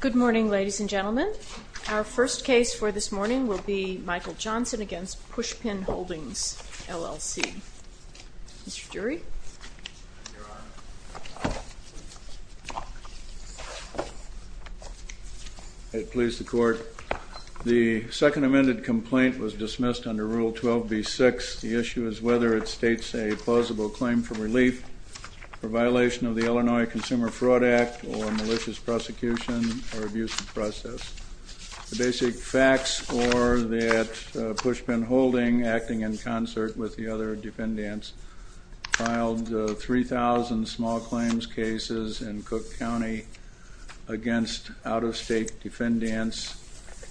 Good morning, ladies and gentlemen. Our first case for this morning will be Michael Johnson v. Pushpin Holdings, LLC. Mr. Durie? I please the court. The second amended complaint was dismissed under Rule 12b-6. The issue is whether it states a plausible claim for relief for violation of the Illinois Consumer Fraud Act or malicious prosecution or abusive process. The basic facts are that Pushpin Holdings, acting in concert with the other defendants, filed 3,000 small claims cases in Cook County against out-of-state defendants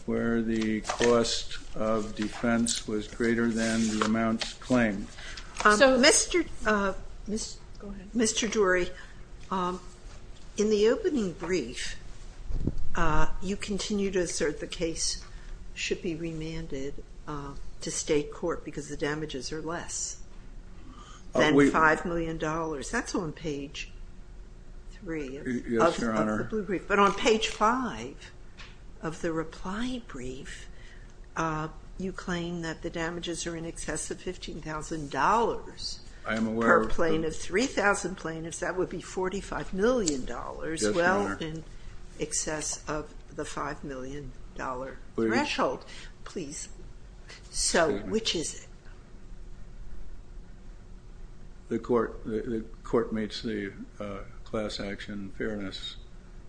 where the cost of defense was greater than the amount claimed. Mr. Durie, in the opening brief, you continue to assert the case should be remanded to state court because the damages are less than $5 million. That's on page 3 of the blue brief. I am aware of that. Per plaintiff, 3,000 plaintiffs, that would be $45 million. Yes, Your Honor. Well, in excess of the $5 million threshold. Please. Please. So, which is it? The court meets the class action fairness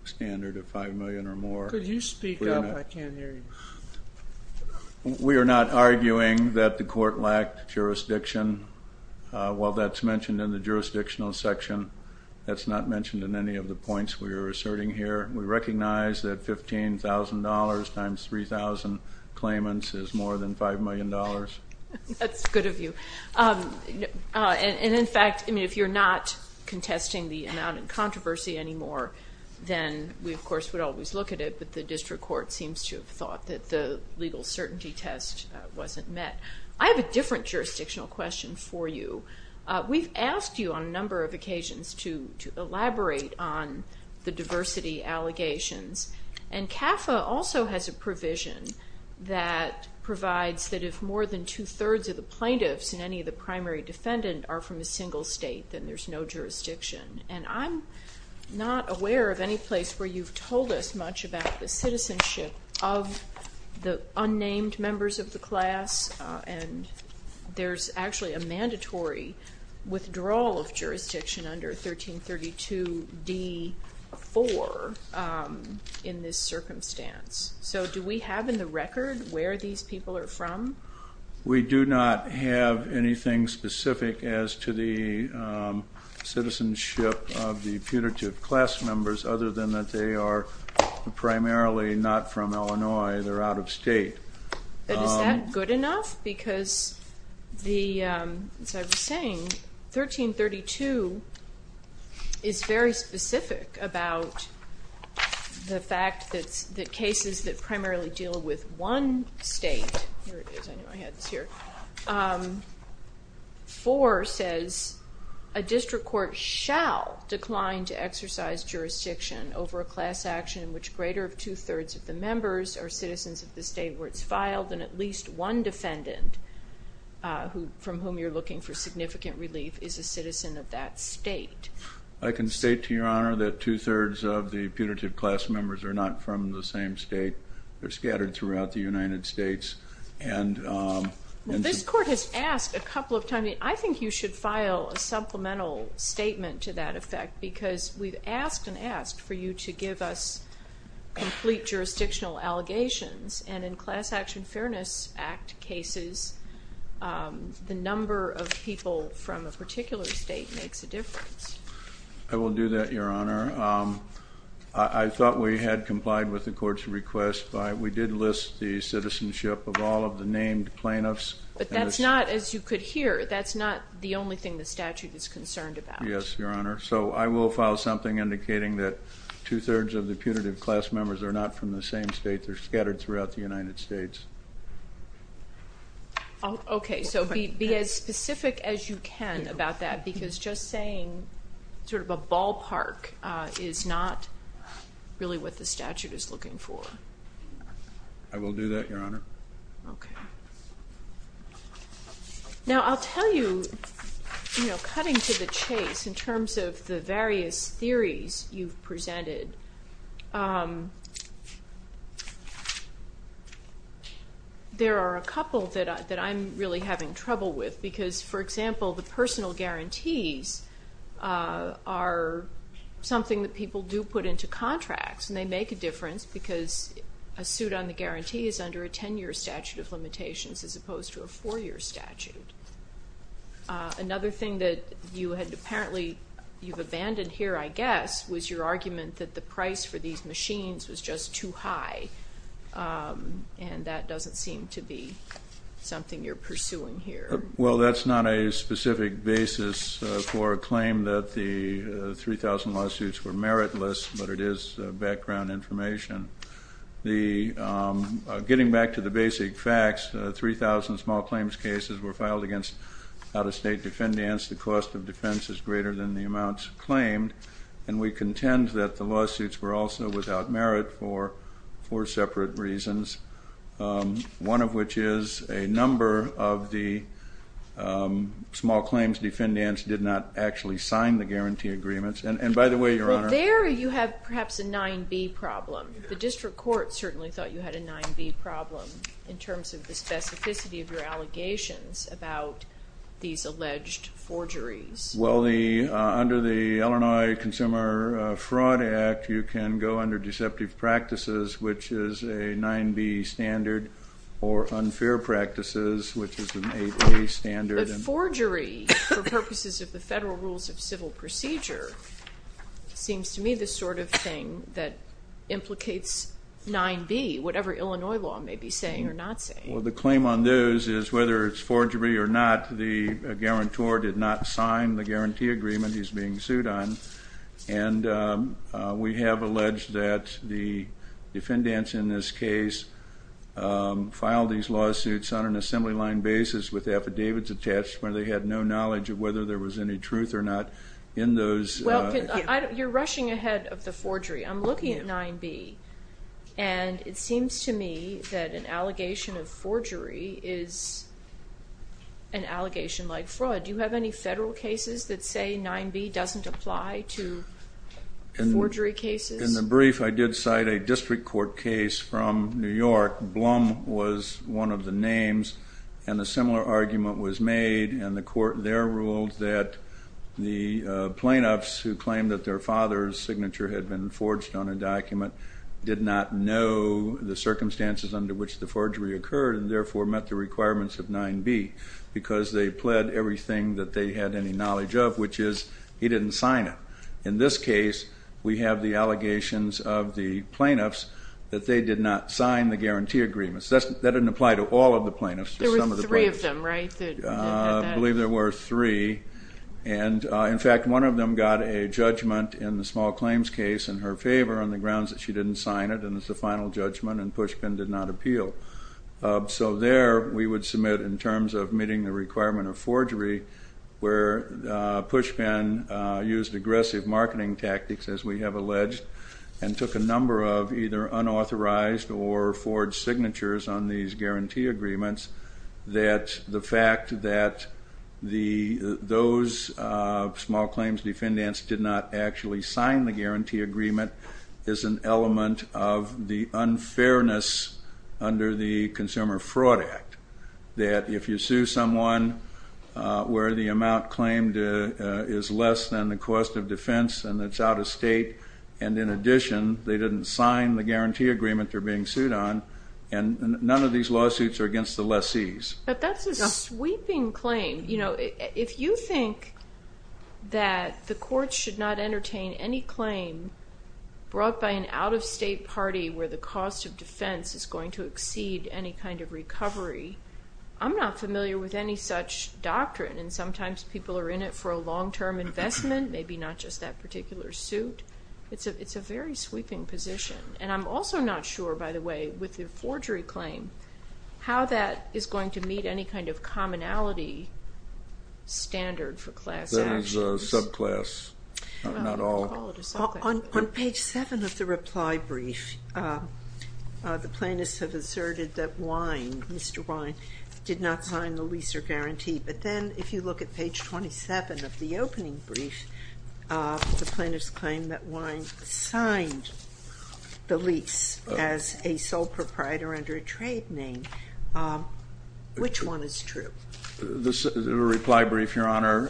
standard of $5 million or more. Could you speak up? I can't hear you. We are not arguing that the court lacked jurisdiction. While that's mentioned in the jurisdictional section, that's not mentioned in any of the points we are asserting here. We recognize that $15,000 times 3,000 claimants is more than $5 million. That's good of you. And, in fact, if you're not contesting the amount in controversy anymore, then we, of course, would always look at it. But the district court seems to have thought that the legal certainty test wasn't met. I have a different jurisdictional question for you. We've asked you on a number of occasions to elaborate on the diversity allegations. And CAFA also has a provision that provides that if more than two-thirds of the plaintiffs and any of the primary defendant are from a single state, then there's no jurisdiction. And I'm not aware of any place where you've told us much about the citizenship of the unnamed members of the class. And there's actually a mandatory withdrawal of jurisdiction under 1332d-4 in this circumstance. So do we have in the record where these people are from? We do not have anything specific as to the citizenship of the putative class members other than that they are primarily not from Illinois. They're out of state. But is that good enough? Because the, as I was saying, 1332 is very specific about the fact that cases that primarily deal with one state, here it is, I knew I had this here, 1332d-4 says a district court shall decline to exercise jurisdiction over a class action in which greater than two-thirds of the members are citizens of the state where it's filed, and at least one defendant from whom you're looking for significant relief is a citizen of that state. I can state to Your Honor that two-thirds of the putative class members are not from the same state. They're scattered throughout the United States. Well, this court has asked a couple of times, I think you should file a supplemental statement to that effect because we've asked and asked for you to give us complete jurisdictional allegations, and in Class Action Fairness Act cases, the number of people from a particular state makes a difference. I will do that, Your Honor. I thought we had complied with the court's request. We did list the citizenship of all of the named plaintiffs. But that's not, as you could hear, that's not the only thing the statute is concerned about. Yes, Your Honor. So I will file something indicating that two-thirds of the putative class members are not from the same state. They're scattered throughout the United States. Okay. So be as specific as you can about that because just saying sort of a ballpark is not really what the statute is looking for. I will do that, Your Honor. Okay. Now, I'll tell you, you know, cutting to the chase in terms of the various theories you've presented, there are a couple that I'm really having trouble with because, for example, the personal guarantees are something that people do put into contracts, and they make a difference because a suit on the guarantee is under a 10-year statute of limitations as opposed to a 4-year statute. Another thing that you had apparently you've abandoned here, I guess, was your argument that the price for these machines was just too high, and that doesn't seem to be something you're pursuing here. Well, that's not a specific basis for a claim that the 3,000 lawsuits were meritless, but it is background information. Getting back to the basic facts, 3,000 small claims cases were filed against out-of-state defendants. The cost of defense is greater than the amounts claimed, and we contend that the lawsuits were also without merit for four separate reasons, one of which is a number of the small claims defendants did not actually sign the guarantee agreements. Well, there you have perhaps a 9-B problem. The district court certainly thought you had a 9-B problem in terms of the specificity of your allegations about these alleged forgeries. Well, under the Illinois Consumer Fraud Act, you can go under deceptive practices, which is a 9-B standard, or unfair practices, which is an 8-A standard. But forgery, for purposes of the Federal Rules of Civil Procedure, seems to me the sort of thing that implicates 9-B, whatever Illinois law may be saying or not saying. Well, the claim on those is whether it's forgery or not, the guarantor did not sign the guarantee agreement he's being sued on, and we have alleged that the defendants in this case filed these lawsuits on an assembly line basis with affidavits attached where they had no knowledge of whether there was any truth or not in those. Well, you're rushing ahead of the forgery. I'm looking at 9-B, and it seems to me that an allegation of forgery is an allegation like fraud. Do you have any Federal cases that say 9-B doesn't apply to forgery cases? In the brief, I did cite a district court case from New York. Blum was one of the names, and a similar argument was made, and the court there ruled that the plaintiffs who claimed that their father's signature had been forged on a document did not know the circumstances under which the forgery occurred and therefore met the requirements of 9-B because they pled everything that they had any knowledge of, which is he didn't sign it. In this case, we have the allegations of the plaintiffs that they did not sign the guarantee agreements. That didn't apply to all of the plaintiffs. There were three of them, right? I believe there were three, and in fact, one of them got a judgment in the small claims case in her favor on the grounds that she didn't sign it, and it's the final judgment, and Pushpin did not appeal. So there, we would submit, in terms of meeting the requirement of forgery, where Pushpin used aggressive marketing tactics, as we have alleged, and took a number of either unauthorized or forged signatures on these guarantee agreements that the fact that those small claims defendants did not actually sign the guarantee agreement is an element of the unfairness under the Consumer Fraud Act, that if you sue someone where the amount claimed is less than the cost of defense and it's out of state, and in addition, they didn't sign the guarantee agreement they're being sued on, and none of these lawsuits are against the lessees. But that's a sweeping claim. You know, if you think that the courts should not entertain any claim brought by an out-of-state party where the cost of defense is going to exceed any kind of recovery, I'm not familiar with any such doctrine, and sometimes people are in it for a long-term investment, maybe not just that particular suit. It's a very sweeping position, and I'm also not sure, by the way, with the forgery claim, how that is going to meet any kind of commonality standard for class actions. That is a subclass, not all. On page 7 of the reply brief, the plaintiffs have asserted that Wynne, Mr. Wynne, did not sign the lease or guarantee. But then if you look at page 27 of the opening brief, the plaintiffs claim that Wynne signed the lease as a sole proprietor under a trade name. Which one is true? The reply brief, Your Honor,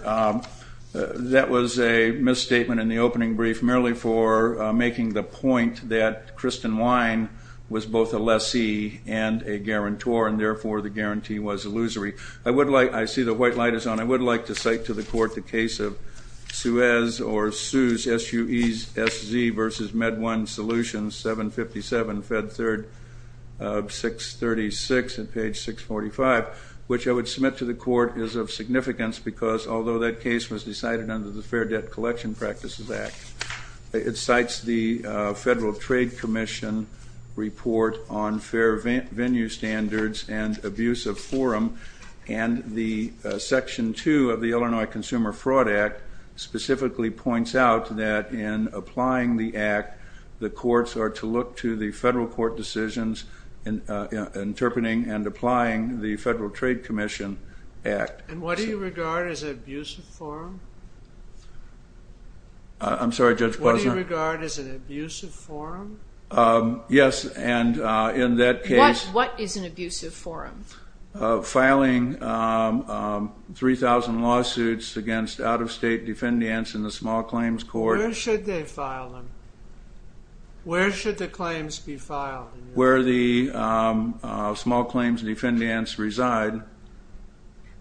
that was a misstatement in the opening brief merely for making the point that Kristen Wynne was both a lessee and a guarantor, and therefore the guarantee was illusory. I see the white light is on. I would like to cite to the Court the case of Suez or Suez, S-U-E-S-Z, versus MedOne Solutions, 757, Fed 3rd, 636 at page 645, which I would submit to the Court is of significance because, although that case was decided under the Fair Debt Collection Practices Act, it cites the Federal Trade Commission report on fair venue standards and abuse of forum, and the Section 2 of the Illinois Consumer Fraud Act specifically points out that in applying the act, the courts are to look to the federal court decisions in interpreting and applying the Federal Trade Commission Act. And what do you regard as an abuse of forum? I'm sorry, Judge Bleser? What do you regard as an abuse of forum? Yes, and in that case... What is an abuse of forum? Filing 3,000 lawsuits against out-of-state defendants in the small claims court. Where should they file them? Where should the claims be filed? Where the small claims defendants reside.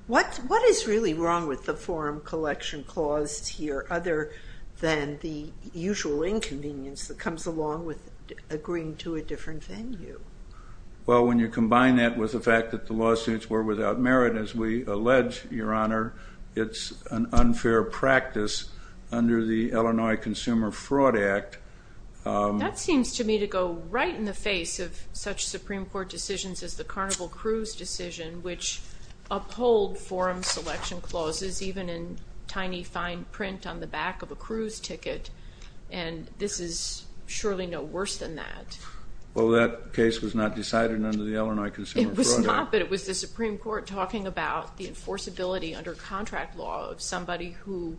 What is really wrong with the forum collection clause here than the usual inconvenience that comes along with agreeing to a different venue? Well, when you combine that with the fact that the lawsuits were without merit, as we allege, Your Honor, it's an unfair practice under the Illinois Consumer Fraud Act. That seems to me to go right in the face of such Supreme Court decisions as the Carnival Cruise decision, which uphold forum selection clauses even in tiny fine print on the back of a cruise ticket. And this is surely no worse than that. Well, that case was not decided under the Illinois Consumer Fraud Act. It was not, but it was the Supreme Court talking about the enforceability under contract law of somebody who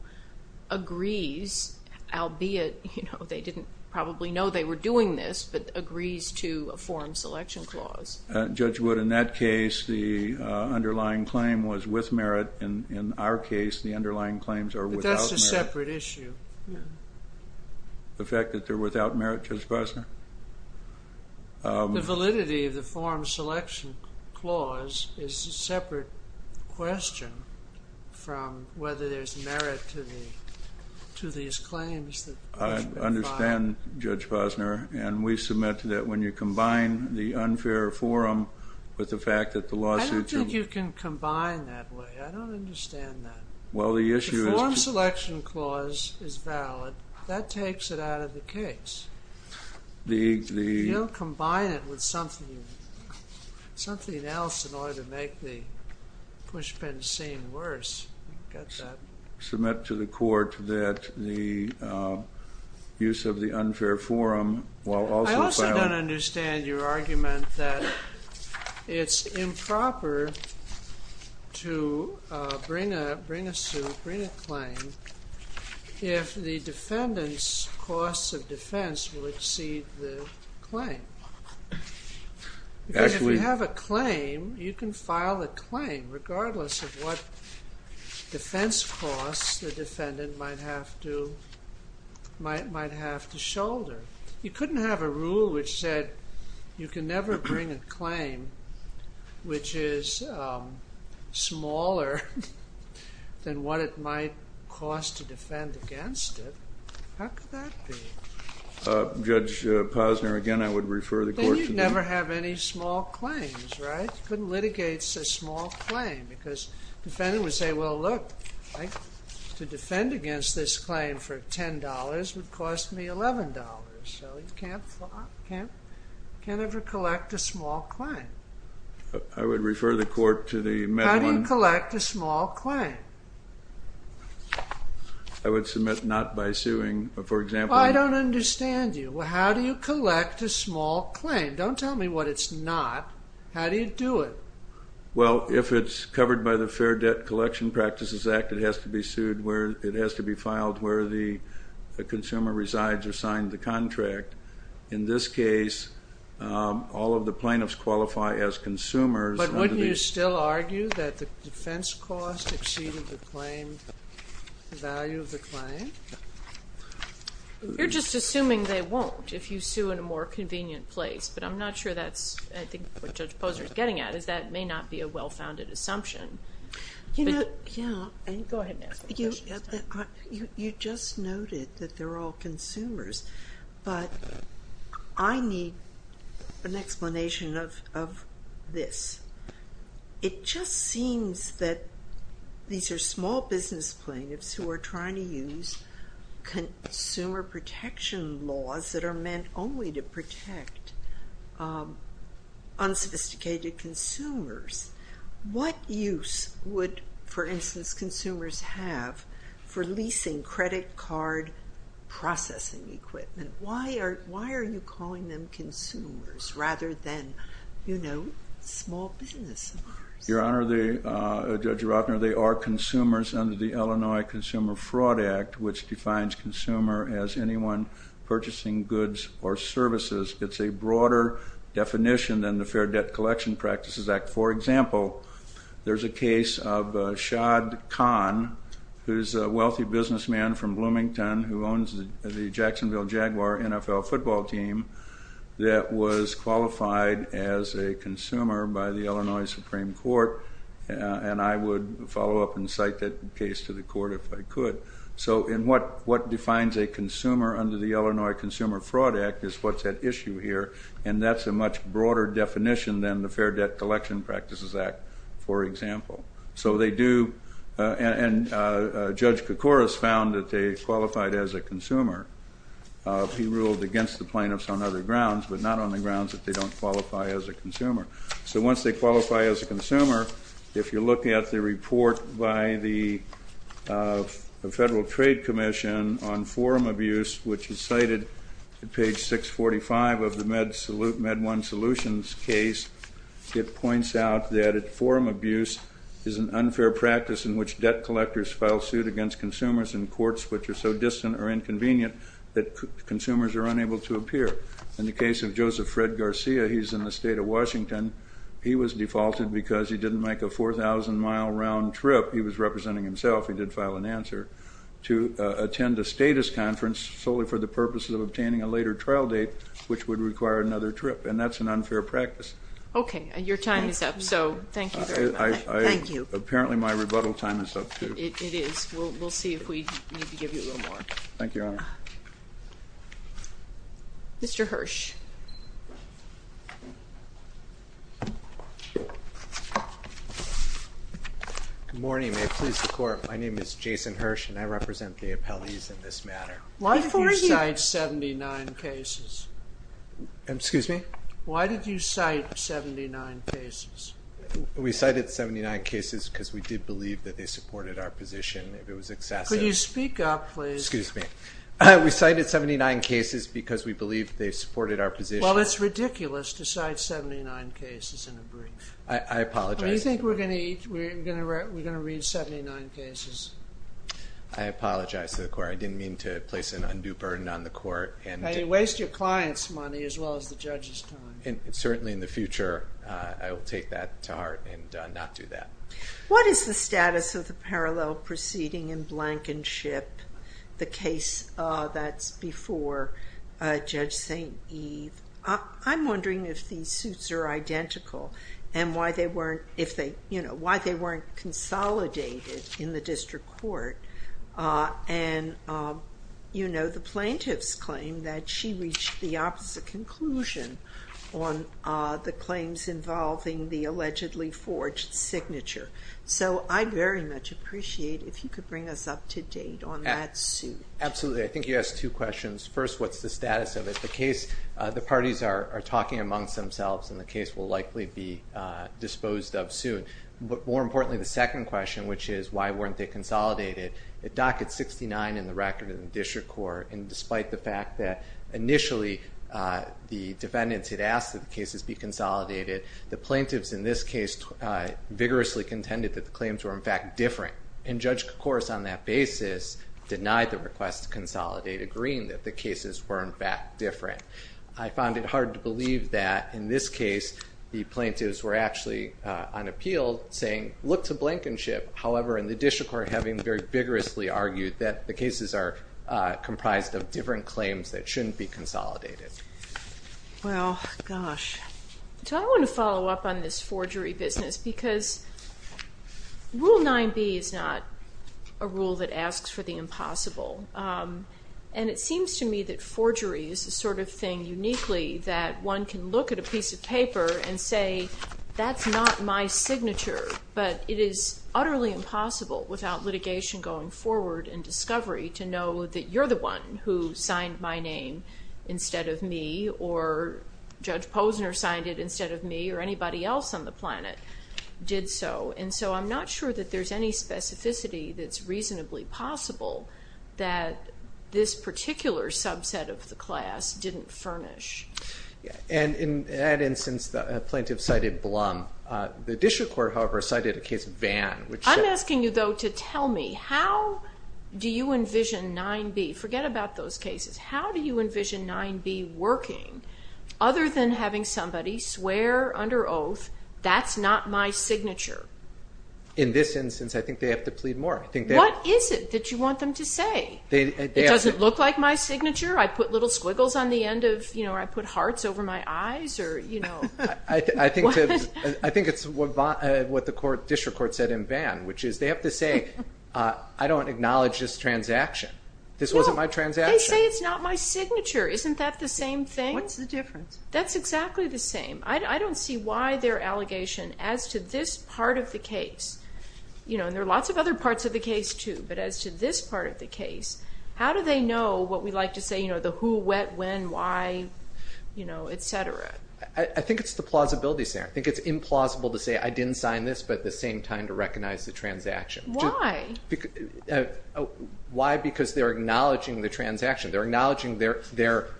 agrees, albeit they didn't probably know they were doing this, but agrees to a forum selection clause. Judge Wood, in that case, the underlying claim was with merit. In our case, the underlying claims are without merit. But that's a separate issue. The fact that they're without merit, Judge Bosner? The validity of the forum selection clause is a separate question from whether there's merit to these claims that Judge Wood filed. I understand, Judge Bosner. And we submit that when you combine the unfair forum with the fact that the lawsuits are- I don't think you can combine that way. I don't understand that. Well, the issue is- The forum selection clause is valid. That takes it out of the case. The- You don't combine it with something else in order to make the pushpins seem worse. Submit to the court that the use of the unfair forum while also- I also don't understand your argument that it's improper to bring a suit, bring a claim, if the defendant's costs of defense will exceed the claim. Actually- Defense costs the defendant might have to shoulder. You couldn't have a rule which said you can never bring a claim which is smaller than what it might cost to defend against it. How could that be? Judge Bosner, again, I would refer the court to the- Then you'd never have any small claims, right? You couldn't litigate a small claim because the defendant would say, well, look, to defend against this claim for $10 would cost me $11. So you can't ever collect a small claim. I would refer the court to the- How do you collect a small claim? I would submit not by suing, for example- I don't understand you. How do you collect a small claim? Don't tell me what it's not. How do you do it? Well, if it's covered by the Fair Debt Collection Practices Act, it has to be filed where the consumer resides or signed the contract. In this case, all of the plaintiffs qualify as consumers. But wouldn't you still argue that the defense cost exceeded the claim, the value of the claim? You're just assuming they won't if you sue in a more convenient place, but I'm not sure that's, I think, what Judge Posner is getting at, is that may not be a well-founded assumption. Go ahead and ask the question. You just noted that they're all consumers, but I need an explanation of this. It just seems that these are small business plaintiffs who are trying to use consumer protection laws that are meant only to protect unsophisticated consumers. What use would, for instance, consumers have for leasing credit card processing equipment? Why are you calling them consumers rather than, you know, small business? Your Honor, Judge Rotner, they are consumers under the Illinois Consumer Fraud Act, which defines consumer as anyone purchasing goods or services. It's a broader definition than the Fair Debt Collection Practices Act. For example, there's a case of Shahd Khan, who's a wealthy businessman from Bloomington who owns the Jacksonville Jaguar NFL football team that was qualified as a consumer by the Illinois Supreme Court, and I would follow up and cite that case to the court if I could. So what defines a consumer under the Illinois Consumer Fraud Act is what's at issue here, and that's a much broader definition than the Fair Debt Collection Practices Act, for example. So they do, and Judge Koukouras found that they qualified as a consumer. He ruled against the plaintiffs on other grounds, but not on the grounds that they don't qualify as a consumer. So once they qualify as a consumer, if you look at the report by the Federal Trade Commission on forum abuse, which is cited at page 645 of the Med One Solutions case, it points out that forum abuse is an unfair practice in which debt collectors file suit against consumers in courts which are so distant or inconvenient that consumers are unable to appear. In the case of Joseph Fred Garcia, he's in the state of Washington. He was defaulted because he didn't make a 4,000-mile round trip. He was representing himself. He did file an answer to attend a status conference solely for the purposes of obtaining a later trial date, which would require another trip, and that's an unfair practice. Okay. Your time is up, so thank you very much. Thank you. Apparently my rebuttal time is up too. We'll see if we need to give you a little more. Thank you, Your Honor. Mr. Hirsch. Good morning. May it please the Court, my name is Jason Hirsch, and I represent the appellees in this matter. Why did you cite 79 cases? Excuse me? Why did you cite 79 cases? We cited 79 cases because we did believe that they supported our position. If it was excessive. Could you speak up, please? Excuse me. We cited 79 cases because we believe they supported our position. Well, it's ridiculous to cite 79 cases in a brief. I apologize. Do you think we're going to read 79 cases? I apologize to the Court. I didn't mean to place an undue burden on the Court. You waste your client's money as well as the judge's time. Certainly in the future I will take that to heart and not do that. What is the status of the parallel proceeding in Blankenship, the case that's before Judge St. Eve? I'm wondering if these suits are identical and why they weren't consolidated in the district court. And, you know, the plaintiff's claim that she reached the opposite conclusion on the claims involving the allegedly forged signature. So I'd very much appreciate if you could bring us up to date on that suit. Absolutely. I think you asked two questions. First, what's the status of it? The parties are talking amongst themselves, and the case will likely be disposed of soon. But more importantly, the second question, which is why weren't they consolidated, it dockets 69 in the record in the district court, and despite the fact that initially the defendants had asked that the cases be consolidated, the plaintiffs in this case vigorously contended that the claims were, in fact, different. And Judge Kocouris on that basis denied the request to consolidate, agreeing that the cases were, in fact, different. I found it hard to believe that in this case the plaintiffs were actually on appeal saying, look to Blankenship. However, in the district court, having very vigorously argued that the cases are comprised of different claims that shouldn't be consolidated. Well, gosh. So I want to follow up on this forgery business, because Rule 9b is not a rule that asks for the impossible. And it seems to me that forgery is the sort of thing uniquely that one can look at a piece of paper and say, that's not my signature, but it is utterly impossible without litigation going forward and discovery to know that you're the one who signed my name instead of me, or Judge Posner signed it instead of me, or anybody else on the planet did so. And so I'm not sure that there's any specificity that's reasonably possible that this particular subset of the class didn't furnish. And in that instance, the plaintiff cited Blum. The district court, however, cited a case of Vann. I'm asking you, though, to tell me, how do you envision 9b? Forget about those cases. How do you envision 9b working other than having somebody swear under oath, that's not my signature? In this instance, I think they have to plead more. What is it that you want them to say? It doesn't look like my signature? I put little squiggles on the end of, you know, or I put hearts over my eyes, or, you know? I think it's what the district court said in Vann, which is they have to say, I don't acknowledge this transaction. This wasn't my transaction. They say it's not my signature. Isn't that the same thing? What's the difference? That's exactly the same. I don't see why their allegation as to this part of the case, you know, and there are lots of other parts of the case too, but as to this part of the case, how do they know what we like to say, you know, the who, what, when, why, you know, et cetera? I think it's the plausibility, Sarah. I think it's implausible to say, I didn't sign this, but at the same time to recognize the transaction. Why? Why? Because they're acknowledging the transaction. They're acknowledging that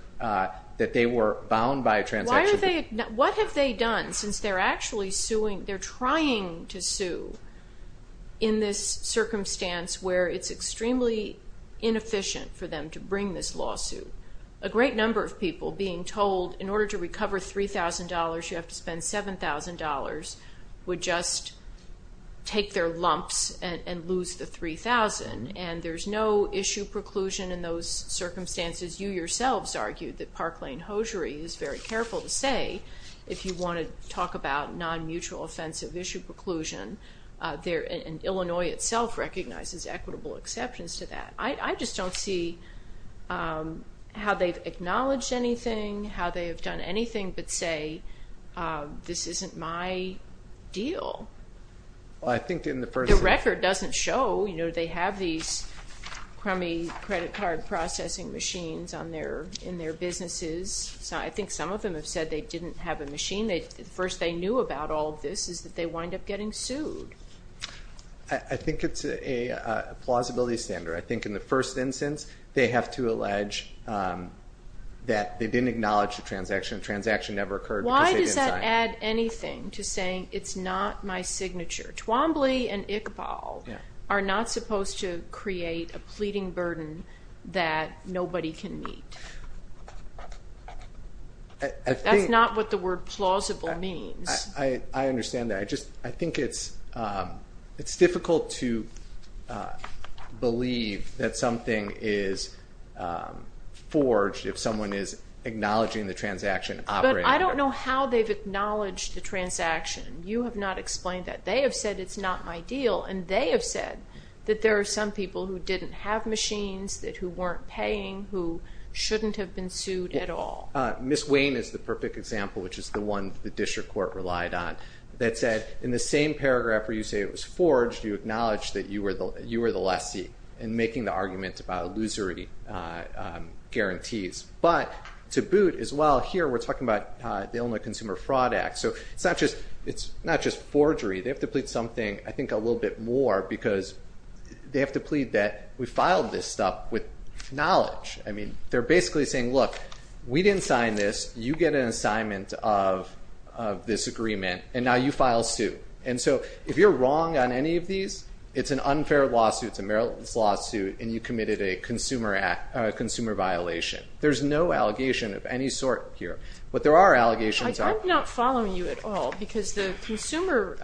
they were bound by a transaction. What have they done since they're actually suing, they're trying to sue in this circumstance where it's extremely inefficient for them to bring this lawsuit? A great number of people being told in order to recover $3,000, you have to spend $7,000, would just take their lumps and lose the $3,000, and there's no issue preclusion in those circumstances. You yourselves argued that Park Lane Hosiery is very careful to say, if you want to talk about non-mutual offensive issue preclusion, and Illinois itself recognizes equitable exceptions to that. I just don't see how they've acknowledged anything, how they have done anything but say, this isn't my deal. The record doesn't show, you know, they have these crummy credit card processing machines in their businesses. I think some of them have said they didn't have a machine. The first they knew about all this is that they wind up getting sued. I think it's a plausibility standard. I think in the first instance they have to allege that they didn't acknowledge the transaction, the transaction never occurred because they didn't sign. Why does that add anything to saying it's not my signature? Twombly and Iqbal are not supposed to create a pleading burden that nobody can meet. That's not what the word plausible means. I understand that. I just think it's difficult to believe that something is forged if someone is acknowledging the transaction. But I don't know how they've acknowledged the transaction. You have not explained that. They have said it's not my deal, and they have said that there are some people who didn't have machines, that who weren't paying, who shouldn't have been sued at all. Ms. Wayne is the perfect example, which is the one the district court relied on, that said in the same paragraph where you say it was forged, you acknowledge that you were the lessee in making the argument about illusory guarantees. But to boot as well, here we're talking about the Illinois Consumer Fraud Act. It's not just forgery. They have to plead something, I think, a little bit more because they have to plead that we filed this stuff with knowledge. They're basically saying, look, we didn't sign this. You get an assignment of this agreement, and now you file suit. And so if you're wrong on any of these, it's an unfair lawsuit, it's a meritorious lawsuit, and you committed a consumer violation. There's no allegation of any sort here. But there are allegations. I'm not following you at all because the consumer,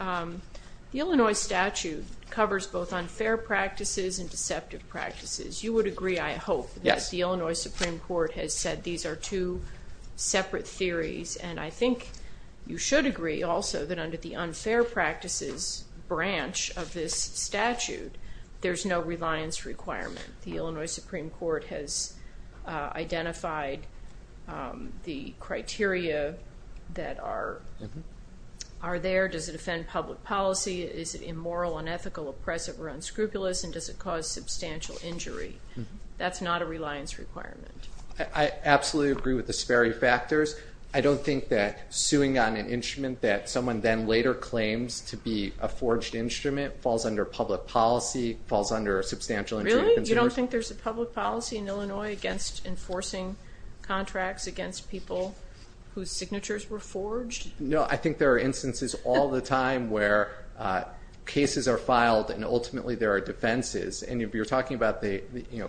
the Illinois statute, covers both unfair practices and deceptive practices. You would agree, I hope, that the Illinois Supreme Court has said that these are two separate theories. And I think you should agree also that under the unfair practices branch of this statute, there's no reliance requirement. The Illinois Supreme Court has identified the criteria that are there. Does it offend public policy? Is it immoral, unethical, oppressive, or unscrupulous? And does it cause substantial injury? That's not a reliance requirement. I absolutely agree with the Sperry factors. I don't think that suing on an instrument that someone then later claims to be a forged instrument falls under public policy, falls under substantial injury. Really? You don't think there's a public policy in Illinois against enforcing contracts against people whose signatures were forged? No, I think there are instances all the time where cases are filed and ultimately there are defenses. And you're talking about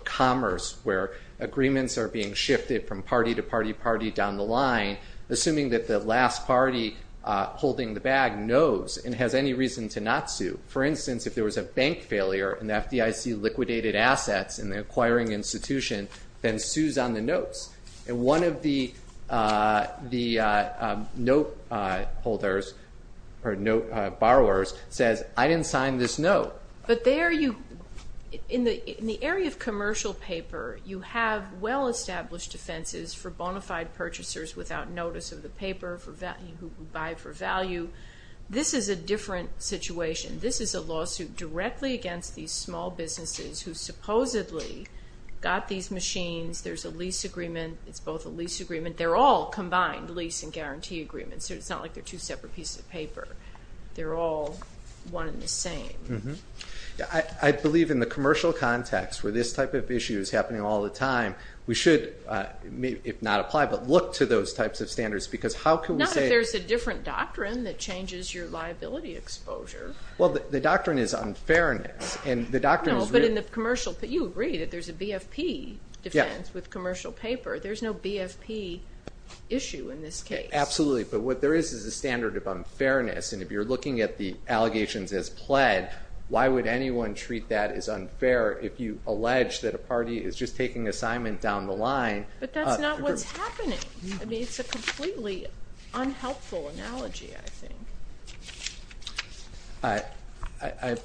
commerce where agreements are being shifted from party to party to party down the line, assuming that the last party holding the bag knows and has any reason to not sue. For instance, if there was a bank failure and the FDIC liquidated assets in the acquiring institution, then sues on the notes. And one of the note holders or note borrowers says, I didn't sign this note. But there you, in the area of commercial paper, you have well-established defenses for bona fide purchasers without notice of the paper who buy for value. This is a different situation. This is a lawsuit directly against these small businesses who supposedly got these machines. There's a lease agreement. It's both a lease agreement. They're all combined lease and guarantee agreements, so it's not like they're two separate pieces of paper. They're all one and the same. I believe in the commercial context where this type of issue is happening all the time, we should, if not apply, but look to those types of standards because how can we say? Not if there's a different doctrine that changes your liability exposure. Well, the doctrine is unfairness. No, but you agree that there's a BFP defense with commercial paper. There's no BFP issue in this case. Absolutely, but what there is is a standard of unfairness, and if you're looking at the allegations as pled, why would anyone treat that as unfair if you allege that a party is just taking assignment down the line? But that's not what's happening. I mean, it's a completely unhelpful analogy, I think.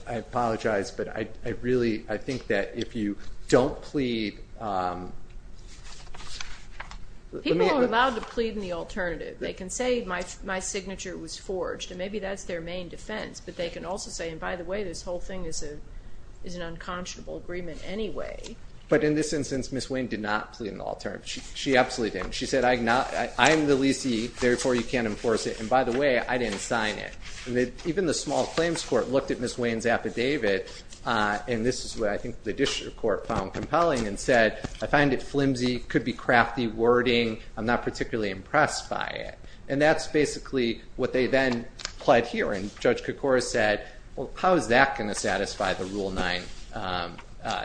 I apologize, but I really think that if you don't plead. People are allowed to plead in the alternative. They can say my signature was forged, and maybe that's their main defense, but they can also say, and by the way, this whole thing is an unconscionable agreement anyway. But in this instance, Ms. Wayne did not plead in the alternative. She absolutely didn't. She said, I am the leasee, therefore you can't enforce it, and by the way, I didn't sign it. Even the small claims court looked at Ms. Wayne's affidavit, and this is what I think the district court found compelling and said, I find it flimsy. It could be crafty wording. I'm not particularly impressed by it. And that's basically what they then pled here. And Judge Kokoros said, well, how is that going to satisfy the Rule 9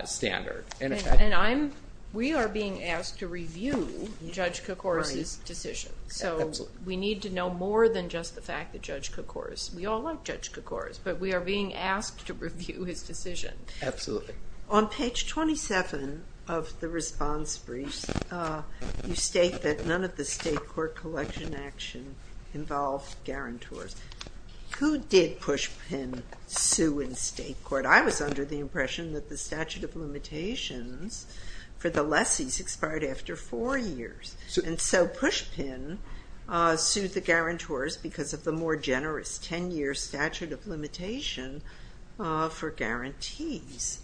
standard? And we are being asked to review Judge Kokoros' decision. So we need to know more than just the fact that Judge Kokoros, we all like Judge Kokoros, but we are being asked to review his decision. Absolutely. On page 27 of the response brief, you state that none of the state court collection action involved guarantors. Who did Pushpin sue in state court? I was under the impression that the statute of limitations for the lessees expired after four years. And so Pushpin sued the guarantors because of the more generous 10-year statute of limitation for guarantees.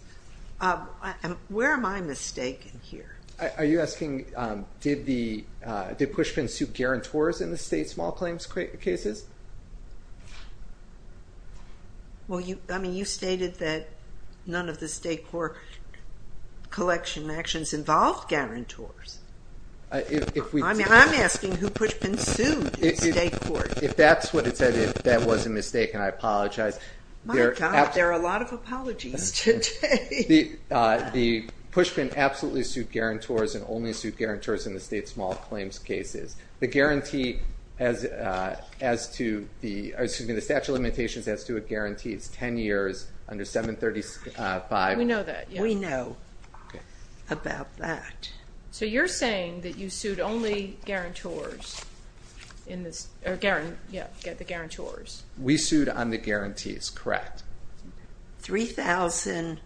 Where am I mistaken here? Are you asking, did Pushpin sue guarantors in the state small claims cases? Well, I mean, you stated that none of the state court collection actions involved guarantors. I'm asking who Pushpin sued in state court. If that's what it said, if that was a mistake, and I apologize. My God, there are a lot of apologies today. The Pushpin absolutely sued guarantors and only sued guarantors in the state small claims cases. The statute of limitations as to a guarantee is 10 years under 735. We know that. We know about that. So you're saying that you sued only guarantors in this, yeah, the guarantors. We sued on the guarantees, correct. 3,000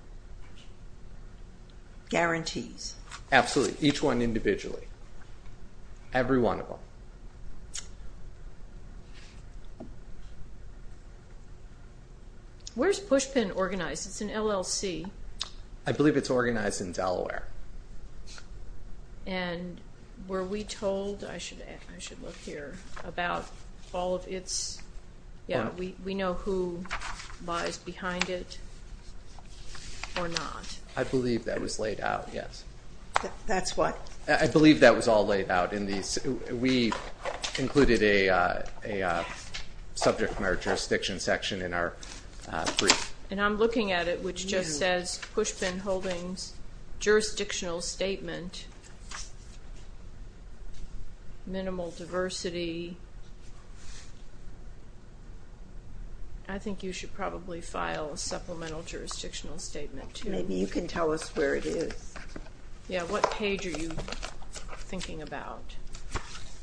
guarantees. Absolutely, each one individually. Every one of them. Where's Pushpin organized? It's an LLC. I believe it's organized in Delaware. And were we told, I should look here, about all of its, yeah, we know who lies behind it or not. I believe that was laid out, yes. That's what? I believe that was all laid out. We included a subject matter jurisdiction section in our brief. And I'm looking at it, which just says Pushpin Holdings, jurisdictional statement, minimal diversity. I think you should probably file a supplemental jurisdictional statement, too. Maybe you can tell us where it is. Yeah, what page are you thinking about?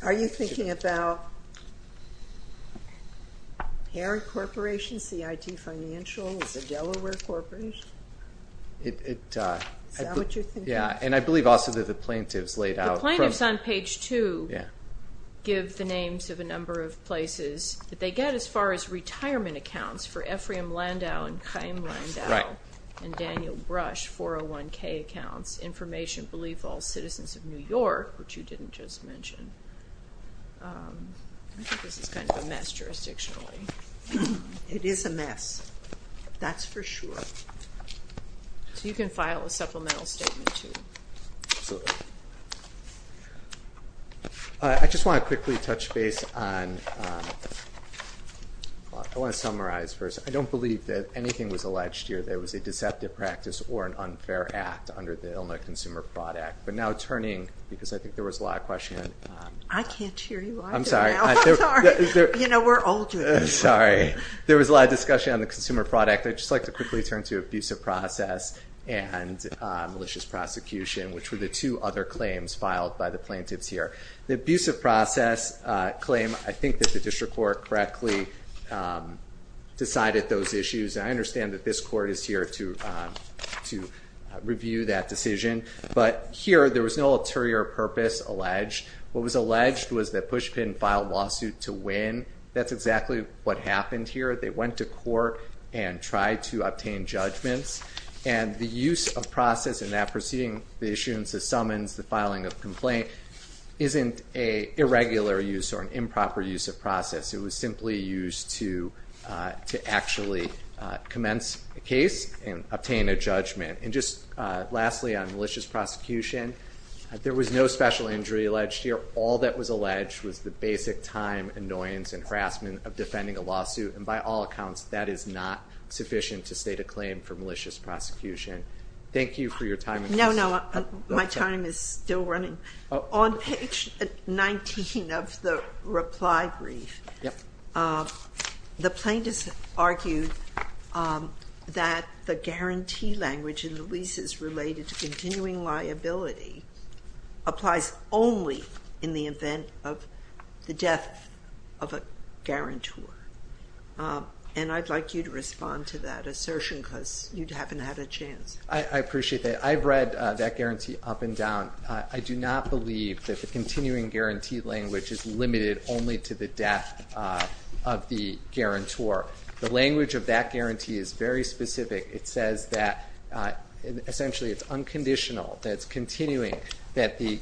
Are you thinking about parent corporations, CIT Financials, the Delaware Corporation? Is that what you're thinking? Yeah, and I believe also that the plaintiffs laid out. The plaintiffs on page two give the names of a number of places. They get as far as retirement accounts for Ephraim Landau and Chaim Landau and Daniel Brush, 401K accounts, information, belief, all citizens of New York, which you didn't just mention. I think this is kind of a mess jurisdictionally. It is a mess. That's for sure. So you can file a supplemental statement, too. Absolutely. I just want to quickly touch base on, I want to summarize first. I don't believe that anything was alleged here that was a deceptive practice or an unfair act under the Illinois Consumer Fraud Act. But now turning, because I think there was a lot of questioning. I can't hear you either now. I'm sorry. You know, we're older. Sorry. There was a lot of discussion on the Consumer Fraud Act. I'd just like to quickly turn to abusive process and malicious prosecution, which were the two other claims filed by the plaintiffs here. The abusive process claim, I think that the district court correctly decided those issues. And I understand that this court is here to review that decision. But here, there was no ulterior purpose alleged. What was alleged was that Pushpin filed a lawsuit to win. That's exactly what happened here. They went to court and tried to obtain judgments. And the use of process in that proceeding, the issuance of summons, the filing of complaint, isn't an irregular use or an improper use of process. It was simply used to actually commence a case and obtain a judgment. And just lastly, on malicious prosecution, there was no special injury alleged here. All that was alleged was the basic time, annoyance, and harassment of defending a lawsuit. And by all accounts, that is not sufficient to state a claim for malicious prosecution. Thank you for your time. No, no. My time is still running. On page 19 of the reply brief, the plaintiffs argued that the guarantee language in the leases related to continuing liability applies only in the event of the death of a guarantor. And I'd like you to respond to that assertion because you haven't had a chance. I appreciate that. I've read that guarantee up and down. I do not believe that the continuing guarantee language is limited only to the death of the guarantor. The language of that guarantee is very specific. It says that essentially it's unconditional, that it's continuing, that the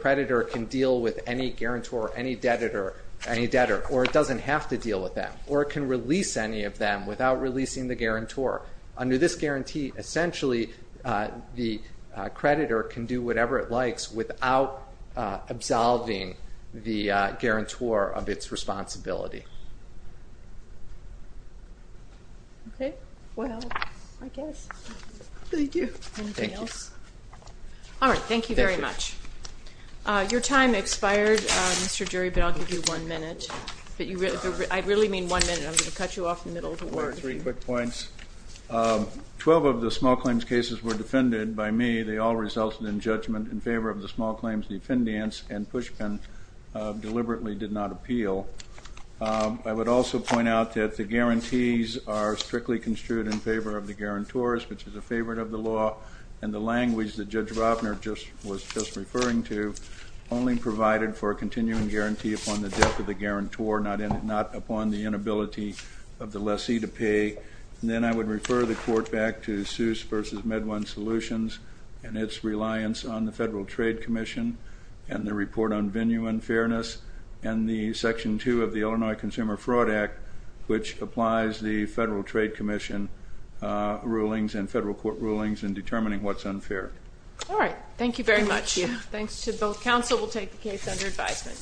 creditor can deal with any guarantor, any debtor, or it doesn't have to deal with them. Or it can release any of them without releasing the guarantor. Under this guarantee, essentially, the creditor can do whatever it likes without absolving the guarantor of its responsibility. Okay. Well, I guess. Thank you. Anything else? Thank you. All right. Thank you very much. Your time expired, Mr. Jury, but I'll give you one minute. I really mean one minute. I'm going to cut you off in the middle of the word. Three quick points. Twelve of the small claims cases were defended by me. They all resulted in judgment in favor of the small claims defendants, and Pushpin deliberately did not appeal. I would also point out that the guarantees are strictly construed in favor of the guarantors, which is a favorite of the law, and the language that Judge Robner was just referring to only provided for a continuing guarantee upon the death of the guarantor, not upon the inability of the lessee to pay. And then I would refer the Court back to Seuss v. Medwin Solutions and its reliance on the Federal Trade Commission and the report on venue unfairness and the Section 2 of the Illinois Consumer Fraud Act, which applies the Federal Trade Commission rulings and federal court rulings in determining what's unfair. All right. Thank you very much. Thanks to both counsel. We'll take the case under advisement.